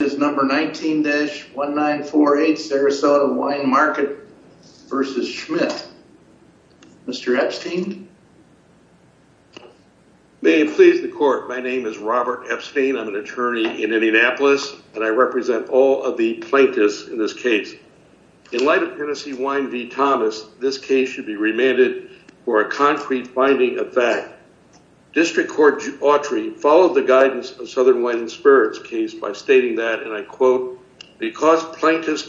is number 19-1948 Sarasota Wine Market versus Schmitt. Mr. Epstein. May it please the court my name is Robert Epstein. I'm an attorney in Indianapolis and I represent all of the plaintiffs in this case. In light of Tennessee Wine v. Thomas this case should be remanded for a concrete finding of fact. District Court Autry followed the plaintiff's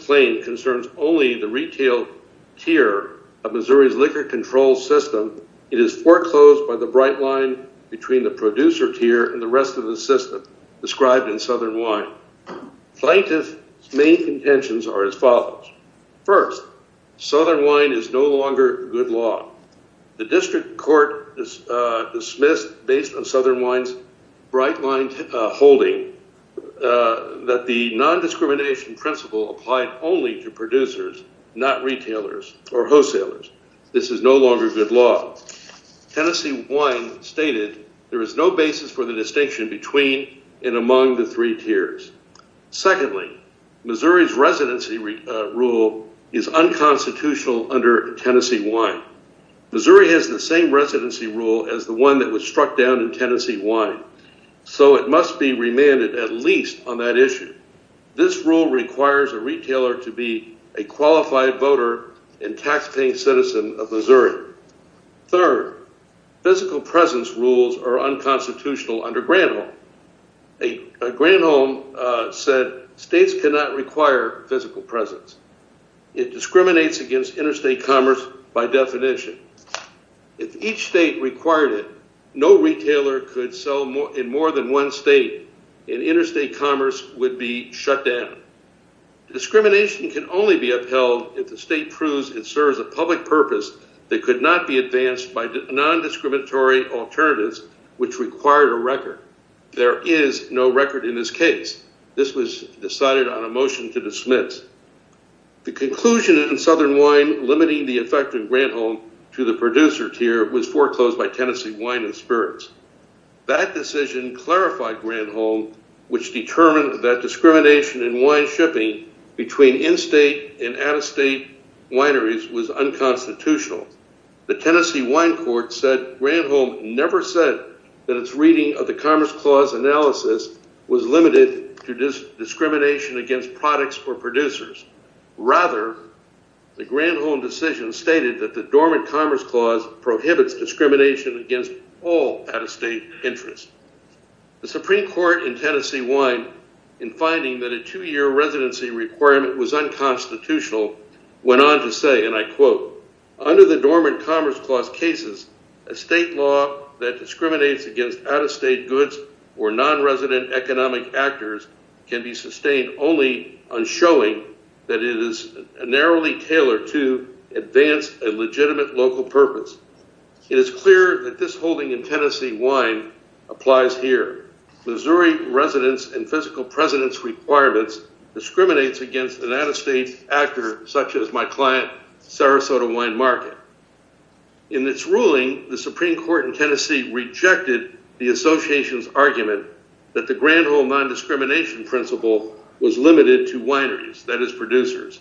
claim concerns only the retail tier of Missouri's liquor control system. It is foreclosed by the bright line between the producer tier and the rest of the system described in Southern Wine. Plaintiff's main intentions are as follows. First, Southern Wine is no longer good law. The district court is dismissed based on Southern Wine's bright line holding that the non-discrimination principle applied only to producers not retailers or wholesalers. This is no longer good law. Tennessee Wine stated there is no basis for the distinction between and among the three tiers. Secondly, Missouri's residency rule is unconstitutional under Tennessee Wine. Missouri has the same residency rule as the one that was struck down in Tennessee Wine. So it must be remanded at least on that issue. This rule requires a retailer to be a qualified voter and taxpaying citizen of Missouri. Third, physical presence rules are unconstitutional under Granholm. Granholm said states cannot require physical presence. It discriminates against interstate commerce by definition. If each state required it, no retailer could sell in more than one state and interstate commerce would be shut down. Discrimination can only be upheld if the state proves it serves a public purpose that could not be advanced by non-discriminatory alternatives which require a record. There is no record in this case. This was decided on a motion to dismiss. The conclusion in Southern Granholm to the producer tier was foreclosed by Tennessee Wine and Spirits. That decision clarified Granholm which determined that discrimination in wine shipping between in-state and out-of-state wineries was unconstitutional. The Tennessee Wine Court said Granholm never said that its reading of the Commerce Clause analysis was limited to discrimination against products or the dormant Commerce Clause prohibits discrimination against all out-of-state interests. The Supreme Court in Tennessee Wine, in finding that a two-year residency requirement was unconstitutional, went on to say, and I quote, under the dormant Commerce Clause cases, a state law that discriminates against out-of-state goods or non-resident economic actors can be legitimate local purpose. It is clear that this holding in Tennessee Wine applies here. Missouri residents and physical presidents requirements discriminates against an out-of-state actor such as my client Sarasota Wine Market. In its ruling, the Supreme Court in Tennessee rejected the association's argument that the Granholm non-discrimination principle was limited to wineries, that is producers.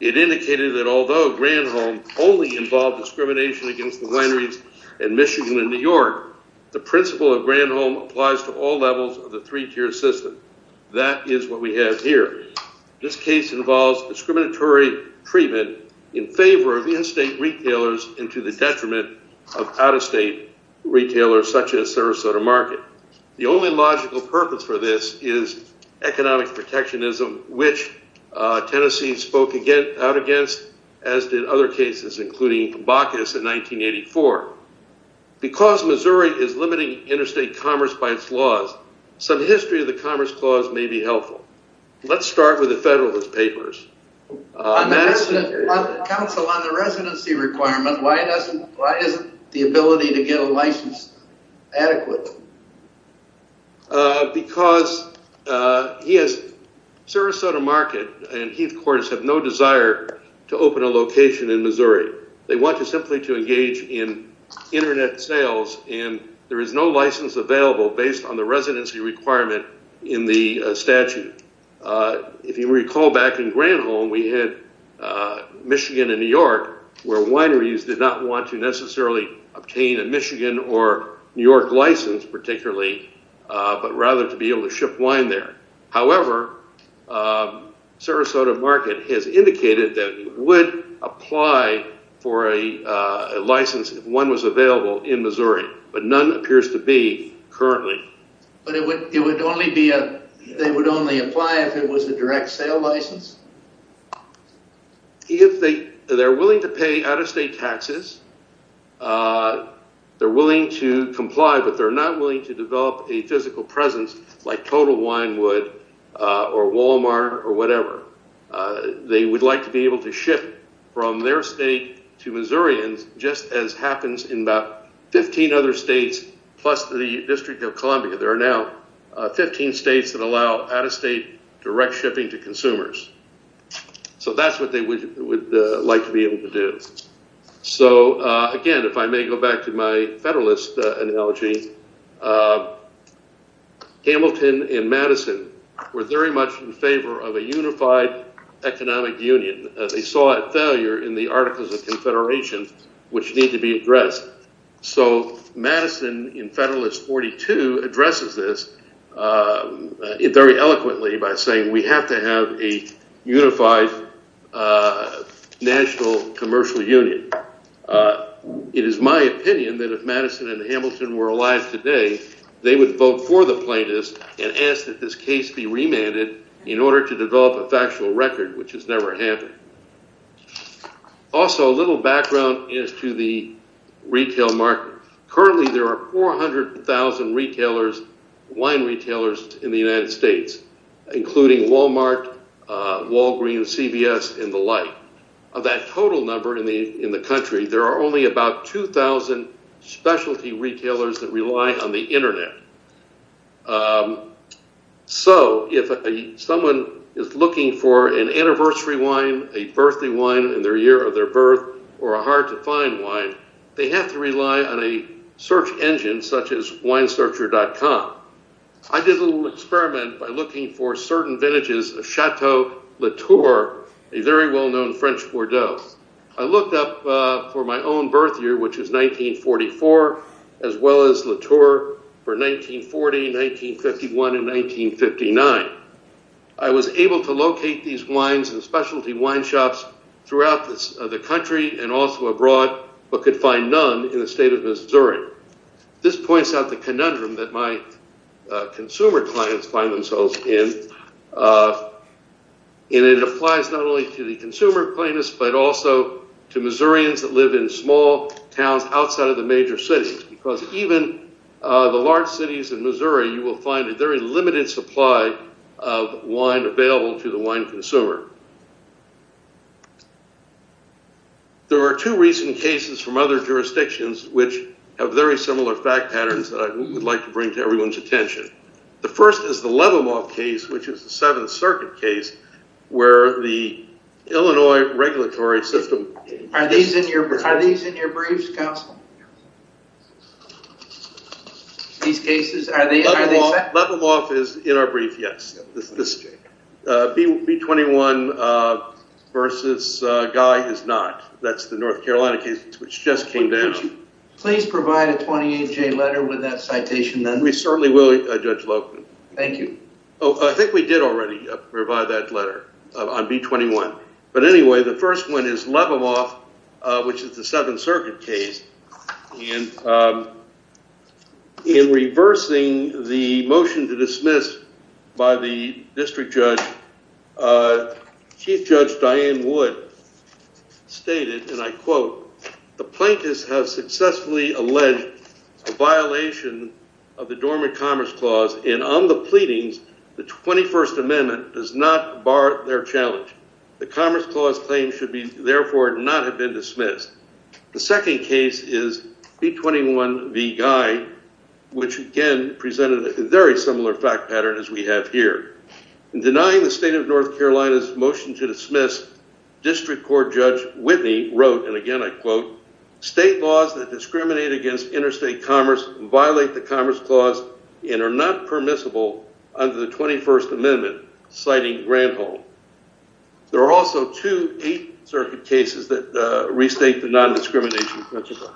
It indicated that although Granholm only involved discrimination against the wineries in Michigan and New York, the principle of Granholm applies to all levels of the three-tier system. That is what we have here. This case involves discriminatory treatment in favor of the in-state retailers into the detriment of out-of-state retailers such as Sarasota Market. The only logical purpose for this is economic protectionism, which Tennessee spoke out against, as did other cases including Bacchus in 1984. Because Missouri is limiting interstate commerce by its laws, some history of the Commerce Clause may be helpful. Let's start with the Federalist because Sarasota Market and Heathcourt have no desire to open a location in Missouri. They want to simply to engage in internet sales and there is no license available based on the residency requirement in the statute. If you recall back in Granholm, we had Michigan and New York where wineries did not want to necessarily obtain a Michigan or New York license particularly, but rather to be able to ship wine there. However, Sarasota Market has indicated that it would apply for a license if one was available in Missouri, but none appears to be currently. But they would only apply if it was a state tax. They're willing to comply but they're not willing to develop a physical presence like Total Wine would or Walmart or whatever. They would like to be able to ship from their state to Missourians just as happens in about 15 other states plus the District of Columbia. There are now 15 states that allow out-of-state direct shipping to consumers. So that's what they would like to be able to do. So again if I may go back to my Federalist analogy, Hamilton and Madison were very much in favor of a unified economic union. They saw it failure in the Articles of Confederation which need to be addressed. So Madison in Federalist 42 addresses this very eloquently by saying we have to have a national commercial union. It is my opinion that if Madison and Hamilton were alive today they would vote for the plaintiffs and ask that this case be remanded in order to develop a factual record which has never happened. Also a little background is to the retail market. Currently there are 400,000 retailers, wine retailers in the United States including Walmart, Walgreens, CVS and the like. Of that total number in the in the country there are only about 2,000 specialty retailers that rely on the internet. So if someone is looking for an anniversary wine, a birthday wine in their year of their birth or a hard to find wine, they have to rely on a search engine such as winesearcher.com. I did a little experiment by looking for certain vintages of Chateau Latour, a very well-known French Bordeaux. I looked up for my own birth year which is 1944 as well as Latour for 1940, 1951 and 1959. I was able to locate these wines and specialty wine shops throughout the country and also abroad but could find none in the state of Missouri. This points out the conundrum that my consumer clients find themselves in and it applies not only to the consumer plainness but also to Missourians that live in small towns outside of the major cities because even the large cities in Missouri you will find a very limited supply of wine available to the wine consumer. There are two recent cases from other jurisdictions which have very similar fact patterns that I would like to bring to everyone's attention. The first is the Leveloff case which is the Seventh Circuit case where the Illinois regulatory system... Are these in your briefs, Counselor? These cases, are they... Leveloff is in our brief, yes. B-21 versus Guy is not. That's the North Carolina case which just came down. Please provide a 28-J letter with that citation then. We certainly will, Judge Lohmann. Thank you. Oh, I think we did already provide that letter on B-21 but anyway the first one is Leveloff which is the Seventh Circuit case and in reversing the motion to dismiss by the and I quote, the plaintiffs have successfully alleged a violation of the Dormant Commerce Clause and on the pleadings the 21st Amendment does not bar their challenge. The Commerce Clause claim should be therefore not have been dismissed. The second case is B-21 v. Guy which again presented a very similar fact pattern as we have here. In denying the state of North Carolina's motion to state laws that discriminate against interstate commerce violate the Commerce Clause and are not permissible under the 21st Amendment, citing Granholm. There are also two Eighth Circuit cases that restate the non-discrimination principle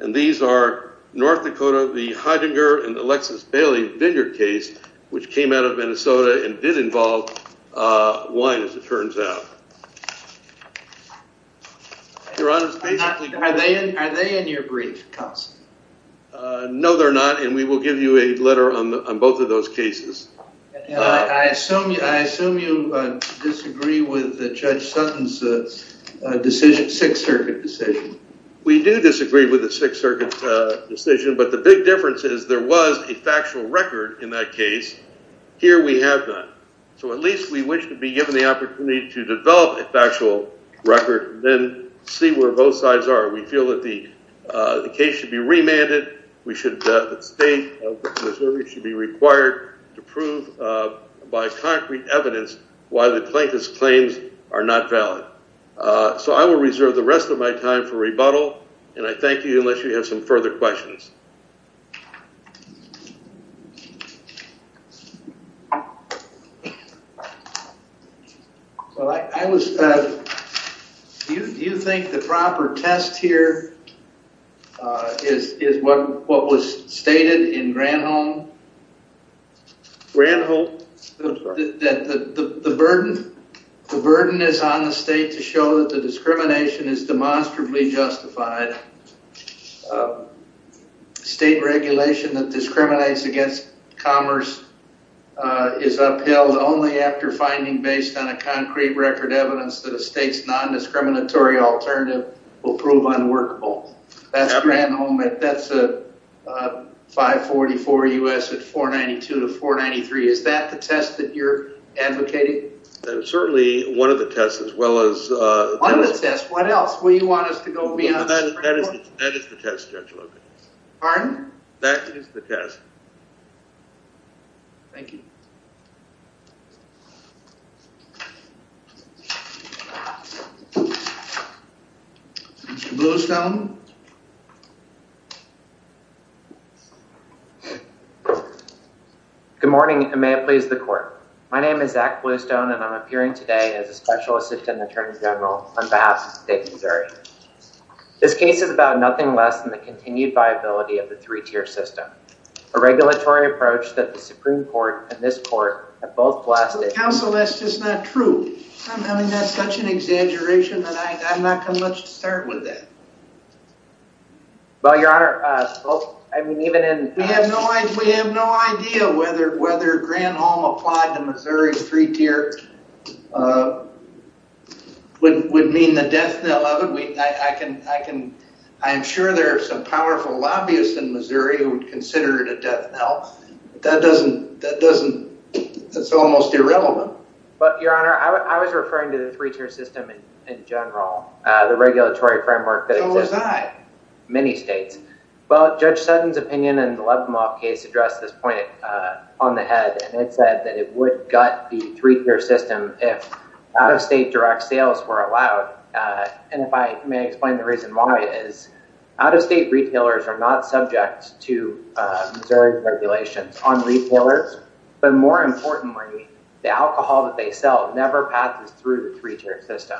and these are North Dakota, the Heidinger and Alexis Bailey Vineyard case which came out of Minnesota and did involve wine as it turns out. Are they in your brief, counsel? No, they're not and we will give you a letter on both of those cases. I assume you disagree with Judge Sutton's Sixth Circuit decision. We do disagree with the Sixth Circuit decision but the big difference is there was a factual record in that case. Here we have not. So at least we wish to be given the opportunity to develop a factual record then see where both sides are. We feel that the case should be remanded. We should state Missouri should be required to prove by concrete evidence why the plaintiff's claims are not valid. So I will reserve the rest of my time for rebuttal and I thank you unless you have some further questions. Well I was... do you think the proper test here is what was stated in Granholm? Granholm? The burden is on the state to show that the discrimination is demonstrably justified. State regulation that discriminates against commerce is upheld only after finding based on a concrete record evidence that a state's non-discriminatory alternative will prove unworkable. That's Granholm. That's a 544 U.S. at 492 to 493. Is that the test that you're advocating? Certainly one of the tests as well as... One of the tests? What else? Will you want us to go beyond this? That is the test, Judge Logan. Pardon? That is the test. Thank you. Mr. Bluestone. Good morning and may it please the court. My name is Zach Bluestone and I'm appearing today as a Special Assistant Attorney General on State of Missouri. This case is about nothing less than the continued viability of the three-tier system, a regulatory approach that the Supreme Court and this court have both blasted... Counsel, that's just not true. I mean that's such an exaggeration and I'm not going to let you start with that. Well, Your Honor, I mean even in... We have no idea whether whether Granholm applied to Missouri's three-tier would mean the death knell of it. I can... I'm sure there are some powerful lobbyists in Missouri who would consider it a death knell. That doesn't... That's almost irrelevant. But, Your Honor, I was referring to the three-tier system in general, the regulatory framework that exists in many states. Well, Judge Sutton's opinion in the Levinloff case addressed this point on the head and it said that it would gut the three-tier system if out-of-state direct sales were allowed. And if I may explain the reason why is out-of-state retailers are not subject to Missouri's regulations on retailers, but more importantly the alcohol that they sell never passes through the three-tier system.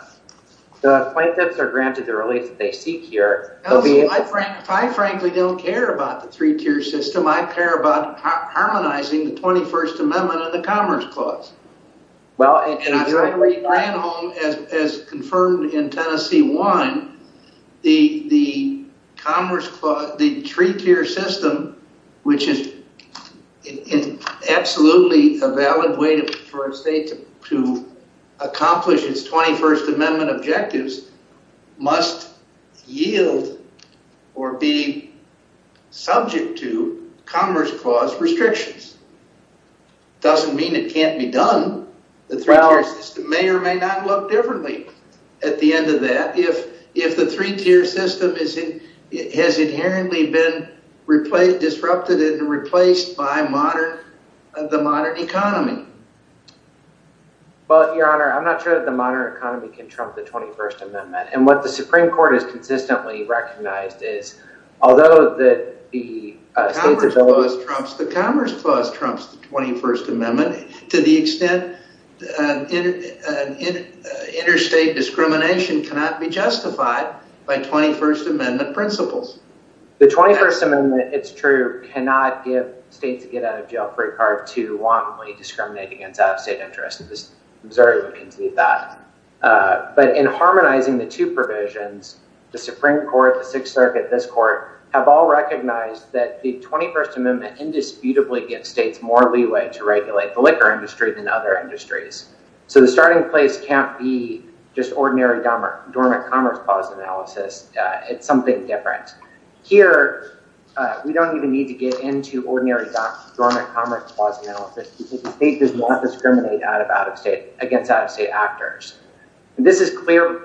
The plaintiffs are granted the relief that they seek here. If I frankly don't care about the three-tier system, I care about harmonizing the 21st Amendment and the Commerce Clause. Well, and I... As confirmed in Tennessee 1, the Commerce Clause, the three-tier system, which is absolutely a valid way for a state to accomplish its 21st Amendment objectives, must yield or be may or may not look differently at the end of that if the three-tier system has inherently been disrupted and replaced by the modern economy. Well, Your Honor, I'm not sure that the modern economy can trump the 21st Amendment. And what the Supreme Court has consistently recognized is, although the Commerce Clause trumps the 21st Amendment, interstate discrimination cannot be justified by 21st Amendment principles. The 21st Amendment, it's true, cannot give states a get-out-of-jail-free card to wantonly discriminate against out-of-state interests. Missouri would concede that. But in harmonizing the two provisions, the Supreme Court, the Sixth Circuit, this Court, have all recognized that the 21st Amendment indisputably gives states more leeway to regulate the liquor industry than other industries. So the starting place can't be just ordinary dormant Commerce Clause analysis. It's something different. Here, we don't even need to get into ordinary dormant Commerce Clause analysis because the state does not discriminate against out-of-state actors. This is clear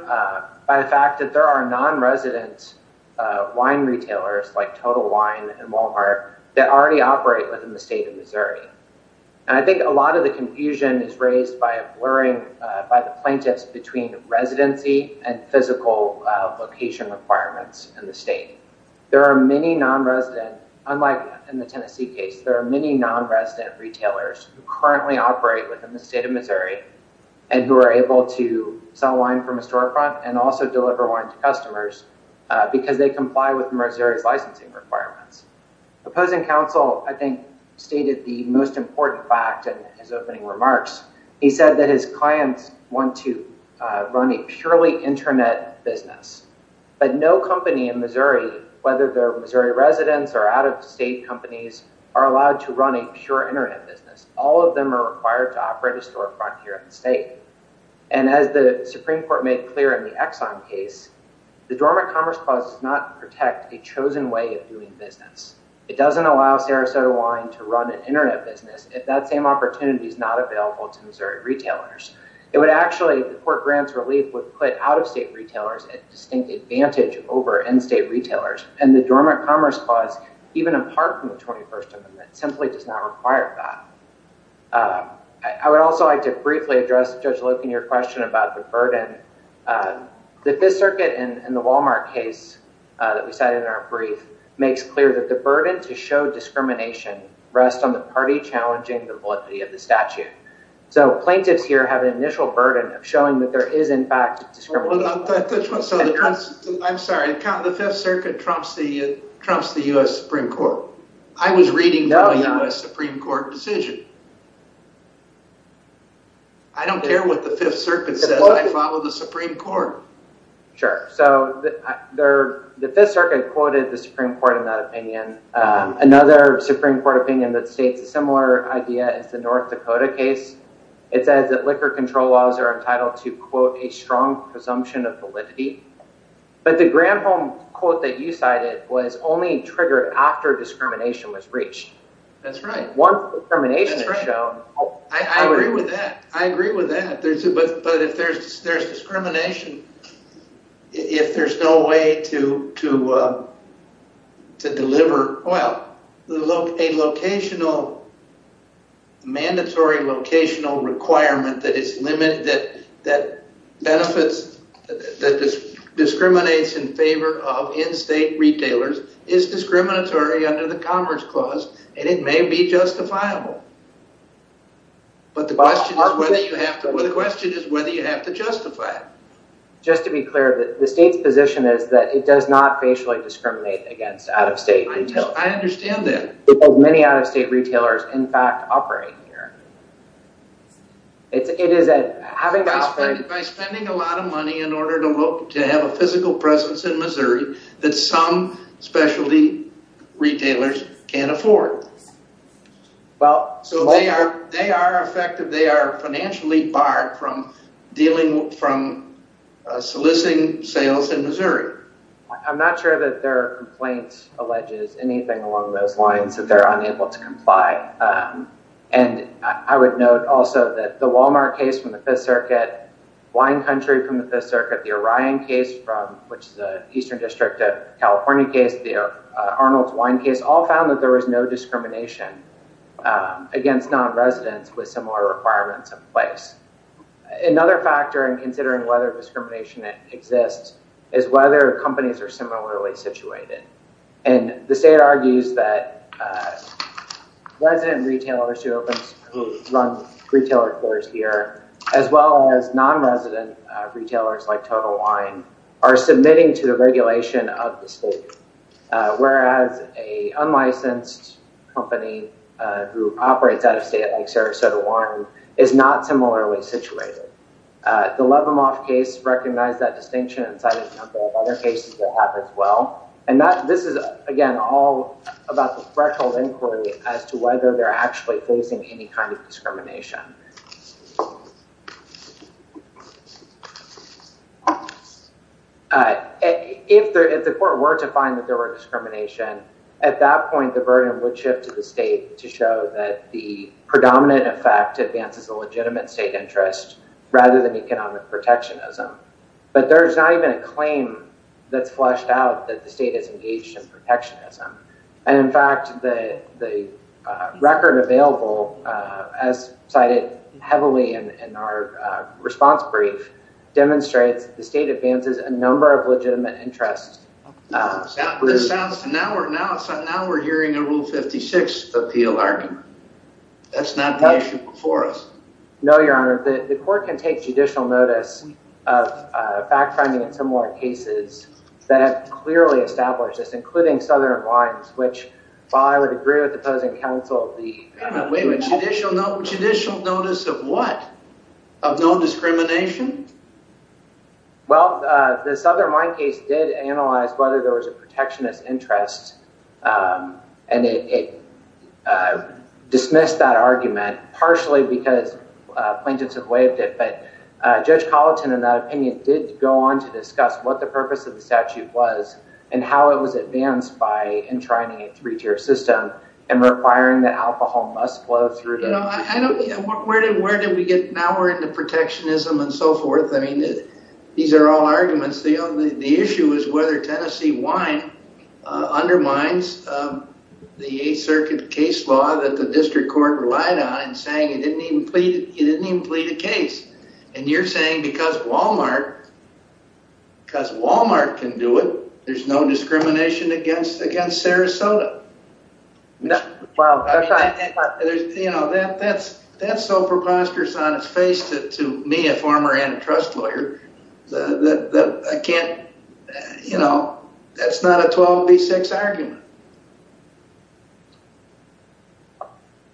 by the fact that there are non-resident wine retailers like Total Wine and Walmart that already operate within the state of Missouri. And I think a lot of the confusion is raised by a blurring by the plaintiffs between residency and physical location requirements in the state. There are many non-resident, unlike in the Tennessee case, there are many non-resident retailers who currently operate within the state of Missouri and who are able to sell wine from a storefront and also deliver wine to customers because they comply with Missouri's licensing requirements. The opposing counsel, I think, stated the most important fact in his opening remarks. He said that his clients want to run a purely Internet business. But no company in Missouri, whether they're Missouri residents or out-of-state companies, are allowed to run a pure Internet business. All of them are required to operate a storefront here in the state. And as the Supreme Court made clear in the Exxon case, the Dormant Commerce Clause does not protect a chosen way of doing business. It doesn't allow Sarasota Wine to run an Internet business if that same opportunity is not available to Missouri retailers. It would actually, the court grants relief, would put out-of-state retailers at distinct advantage over in-state retailers. And the Dormant Commerce Clause, even apart from the I would also like to briefly address, Judge Loken, your question about the burden. The Fifth Circuit in the Walmart case that we cited in our brief makes clear that the burden to show discrimination rests on the party challenging the validity of the statute. So plaintiffs here have an initial burden of showing that there is, in fact, discrimination. Hold on. I'm sorry. The Fifth Circuit trumps the U.S. Supreme Court. I was reading the U.S. Supreme Court. I don't care what the Fifth Circuit says. I follow the Supreme Court. Sure. So the Fifth Circuit quoted the Supreme Court in that opinion. Another Supreme Court opinion that states a similar idea is the North Dakota case. It says that liquor control laws are entitled to, quote, a strong presumption of validity. But the Granholm quote that you cited was only triggered after discrimination was reached. That's right. Once discrimination is I agree with that. I agree with that. But if there's discrimination, if there's no way to deliver, well, a locational, mandatory locational requirement that is limited, that benefits, that discriminates in favor of in-state retailers is discriminatory under the Commerce Clause, and it may be justifiable. But the question is whether you have to justify it. Just to be clear, the state's position is that it does not facially discriminate against out-of-state retailers. I understand that. Many out-of-state retailers, in fact, operate here. By spending a lot of money in order to have a physical presence in Missouri that some specialty retailers can't afford. So they are financially barred from soliciting sales in Missouri. I'm not sure that their complaint alleges anything along those lines, that they're unable to comply. And I would note also that the Walmart case from the Fifth Circuit, Wine Country from the Fifth Circuit, the Orion case from, which is an Eastern District of California case, the Arnold's Wine case, all found that there was no discrimination against non-residents with similar requirements in place. Another factor in considering whether discrimination exists is whether companies are similarly situated. And the state argues that resident retailers who run retailers here, as well as non-resident retailers like Total Wine, are submitting to the regulation of the state. Whereas, a unlicensed company who operates out-of-state, like Sarasota Wine, is not similarly situated. The Levimoff case recognized that distinction and cited a number of other cases that have as well. And this is, again, all about the threshold inquiry as to whether they're actually facing any kind of discrimination. If the court were to find that there were discrimination, at that point the burden would shift to the state to show that the predominant effect advances the legitimate state interest rather than economic protectionism. But there's not even a claim that's fleshed out that the state is engaged in protectionism. And in fact, the record available as cited heavily in our response brief demonstrates the state advances a number of legitimate interests. Now we're hearing a Rule 56 appeal argument. That's not the issue before us. No, Your Honor. The court can take judicial notice of fact-finding in similar cases that have clearly established this, including Southern Wines, which, while I would agree with the opposing counsel... Wait a minute. Judicial notice of what? Of no discrimination? Well, the Southern Wine case did analyze whether there was a protectionist interest, and it dismissed that argument, partially because plaintiffs had waived it. But Judge Colleton, in that opinion, did go on to discuss what the purpose of the statute was and how it was advanced by enshrining a three-tier system and requiring that alcohol must flow through the... You know, where did we get... Now we're into protectionism and so forth. I mean, these are all arguments. The issue is whether Tennessee Wine undermines the Eighth Circuit case law that the district court relied on in saying it didn't even plead a case. And you're saying because Walmart can do it, there's no discrimination against Sarasota. You know, that's so preposterous on its face to me, a former antitrust lawyer, that I can't... You know, that's not a 12b6 argument.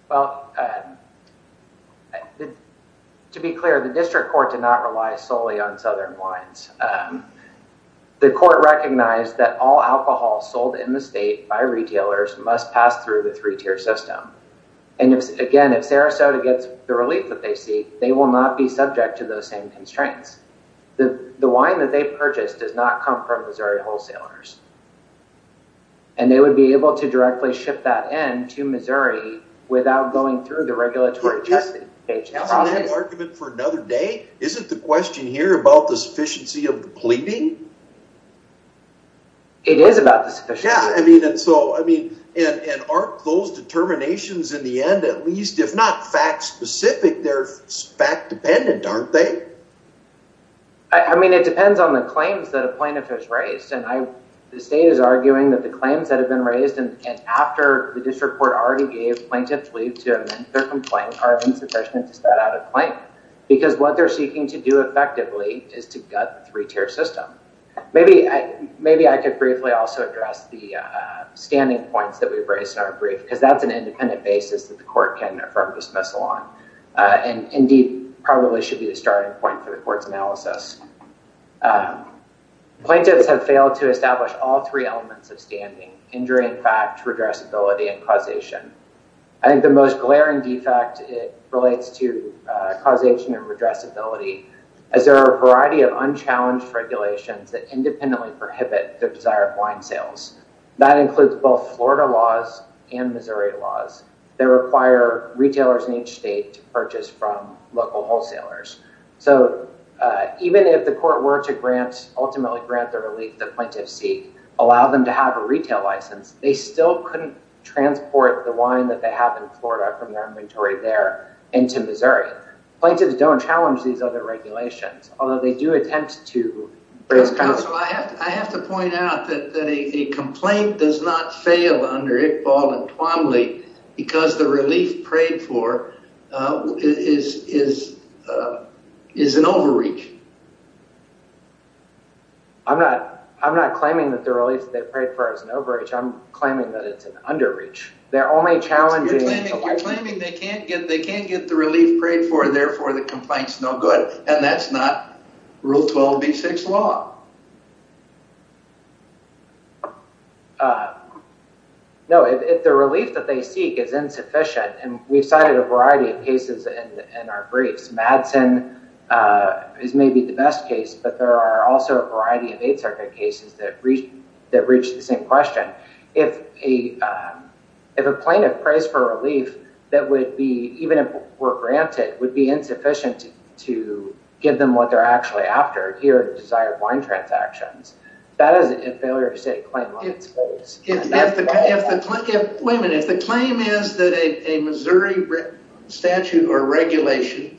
Well, to be clear, the district court did not rely solely on Southern wines. The court recognized that all alcohol sold in the state by retailers must pass through the three-tier system. And again, if Sarasota gets the relief that they seek, they will not be subject to those same constraints. The wine that they purchased does not come from Missouri wholesalers. And they would be able to directly ship that in to Missouri without going through the regulatory testing page. Isn't that an argument for another day? Isn't the question here about the sufficiency of the pleading? It is about the sufficiency. Yeah, I mean, and so, I mean, and aren't those determinations in the end at least, if not fact-specific, they're fact-dependent, aren't they? I mean, it depends on the claims that a plaintiff has raised. And the state is arguing that the claims that have been raised and after the district court already gave plaintiffs leave to amend their complaint are insufficient to start out a claim. Because what they're seeking to do effectively is to gut the three-tier system. Maybe I could briefly also address the standing points that we've raised in our brief, because that's an independent basis that the court's analysis. Plaintiffs have failed to establish all three elements of standing, injury in fact, redressability, and causation. I think the most glaring defect relates to causation and redressability, as there are a variety of unchallenged regulations that independently prohibit the desire of wine sales. That includes both Florida laws and Missouri laws that require retailers in each state to purchase from local wholesalers. So, even if the court were to grant, ultimately grant the relief that plaintiffs seek, allow them to have a retail license, they still couldn't transport the wine that they have in Florida from their inventory there into Missouri. Plaintiffs don't challenge these other regulations, although they do attempt to... I have to point out that a complaint does not fail under Iqbal and Twombly because the relief prayed for is an overreach. I'm not claiming that the relief they prayed for is an overreach, I'm claiming that it's an underreach. They're only challenging... You're claiming they can't get the relief prayed for, therefore the complaint's no good, and that's not Rule 12b6 law. No, if the relief that they seek is insufficient, and we've cited a variety of cases in our briefs, Madsen is maybe the best case, but there are also a variety of Eighth Circuit cases that reach the same question. If a plaintiff prays for relief that would be, even if were granted, would be insufficient to give them what they're actually after here, the desired wine transactions, that is a failure to state a claim on its face. If the claim is that a Missouri statute or regulation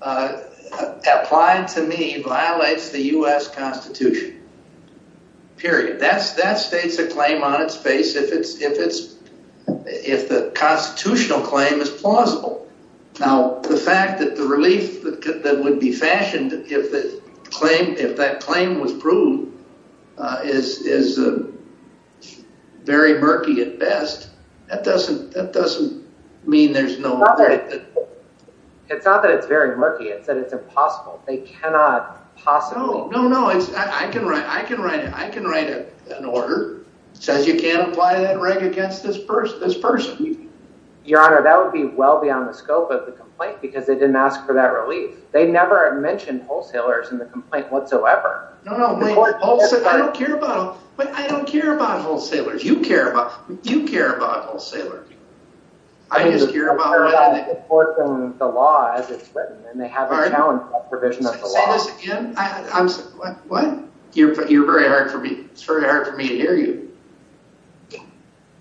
applied to me violates the U.S. Constitution, period, that states a claim on the U.S. Constitution, period. If the fact that the relief that would be fashioned if that claim was proved is very murky at best, that doesn't mean there's no... It's not that it's very murky, it's that it's impossible. They cannot possibly... No, no, no, I can write an order that says you can't apply that right against this person. Your Honor, that would be well beyond the scope of the complaint because they didn't ask for that relief. They never mentioned wholesalers in the complaint whatsoever. No, no, I don't care about wholesalers. You care about wholesalers. You care about wholesalers. I just care about the law as it's written and they have a challenge about provision of the law. Say this again? What? You're very hard for me. It's very hard for me to hear you.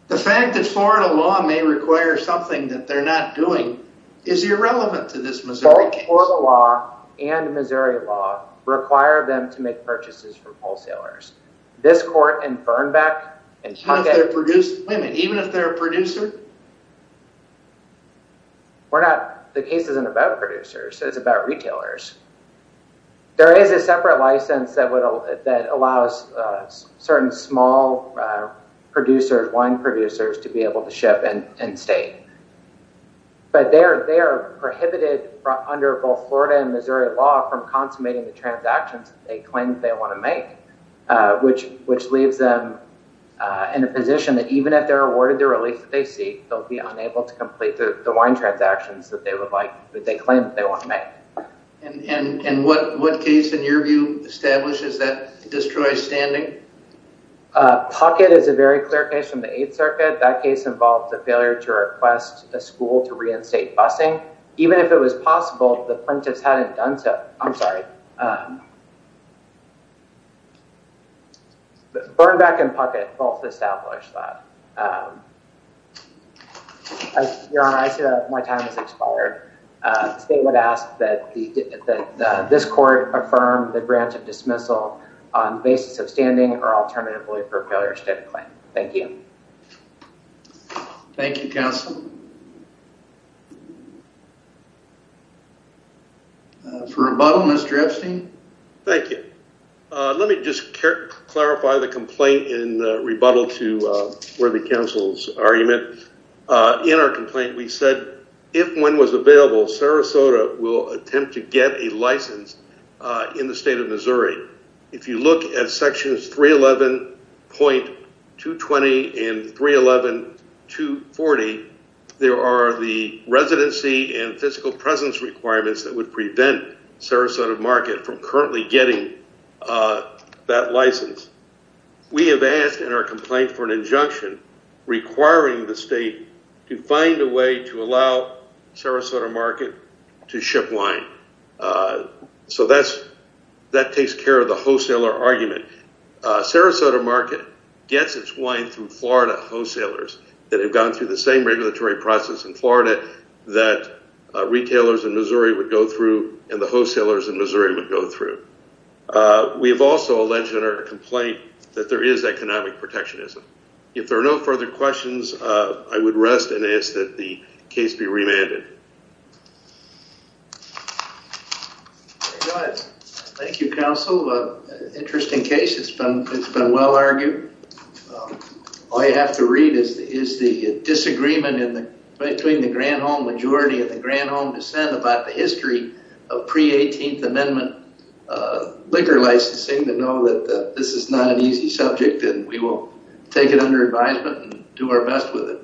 The fact that Florida law may require something that they're not doing is irrelevant to this Missouri case. Both Florida law and Missouri law require them to make purchases from wholesalers. This court in Fernbeck... Even if they're a producer? We're not... The case isn't about producers, it's about retailers. There is a separate license that allows certain small producers, wine producers, to be able to ship and stay. But they are prohibited under both Florida and Missouri law from consummating the transactions that they claim they want to make, which leaves them in a position that even if they're awarded the relief that they seek, they'll be unable to complete the wine transactions that they claim they want to make. And what case in your view establishes that destroyed standing? Puckett is a very clear case from the Eighth Circuit. That case involved the failure to request a school to reinstate busing. Even if it was possible, the plaintiffs hadn't done so. I'm sorry. Fernbeck and Puckett both established that. Your Honor, I see that my time has expired. State would ask that this court affirm the grant of dismissal on basis of standing or alternatively for failure to state a claim. Thank you. Thank you, counsel. For rebuttal, Mr. Epstein. Thank you. Let me just clarify the complaint in the rebuttal to Worthy Counsel's argument. In our complaint, we said if one was available, Sarasota will attempt to get a license in the state of Missouri. If you look at sections 311.220 and 311.240, there are the residency and physical presence requirements that would prevent Sarasota Market from currently getting that license. We have asked in our complaint for an injunction requiring the state to find a way to allow Sarasota Market to ship wine. That takes care of the wholesaler argument. Sarasota Market gets its wine through Florida wholesalers that have gone through the same regulatory process in Florida that retailers in Missouri would go through and the wholesalers in Missouri would go through. We have also alleged in our complaint that there is economic protectionism. If there are no further questions, I would rest and ask that the case be remanded. Thank you, counsel. Interesting case. It's been well argued. All you have to read is the disagreement between the grand home majority and the grand home dissent about the history of pre-18th amendment liquor licensing to know that this is not an easy subject and we will take it under advisement and do our best with it.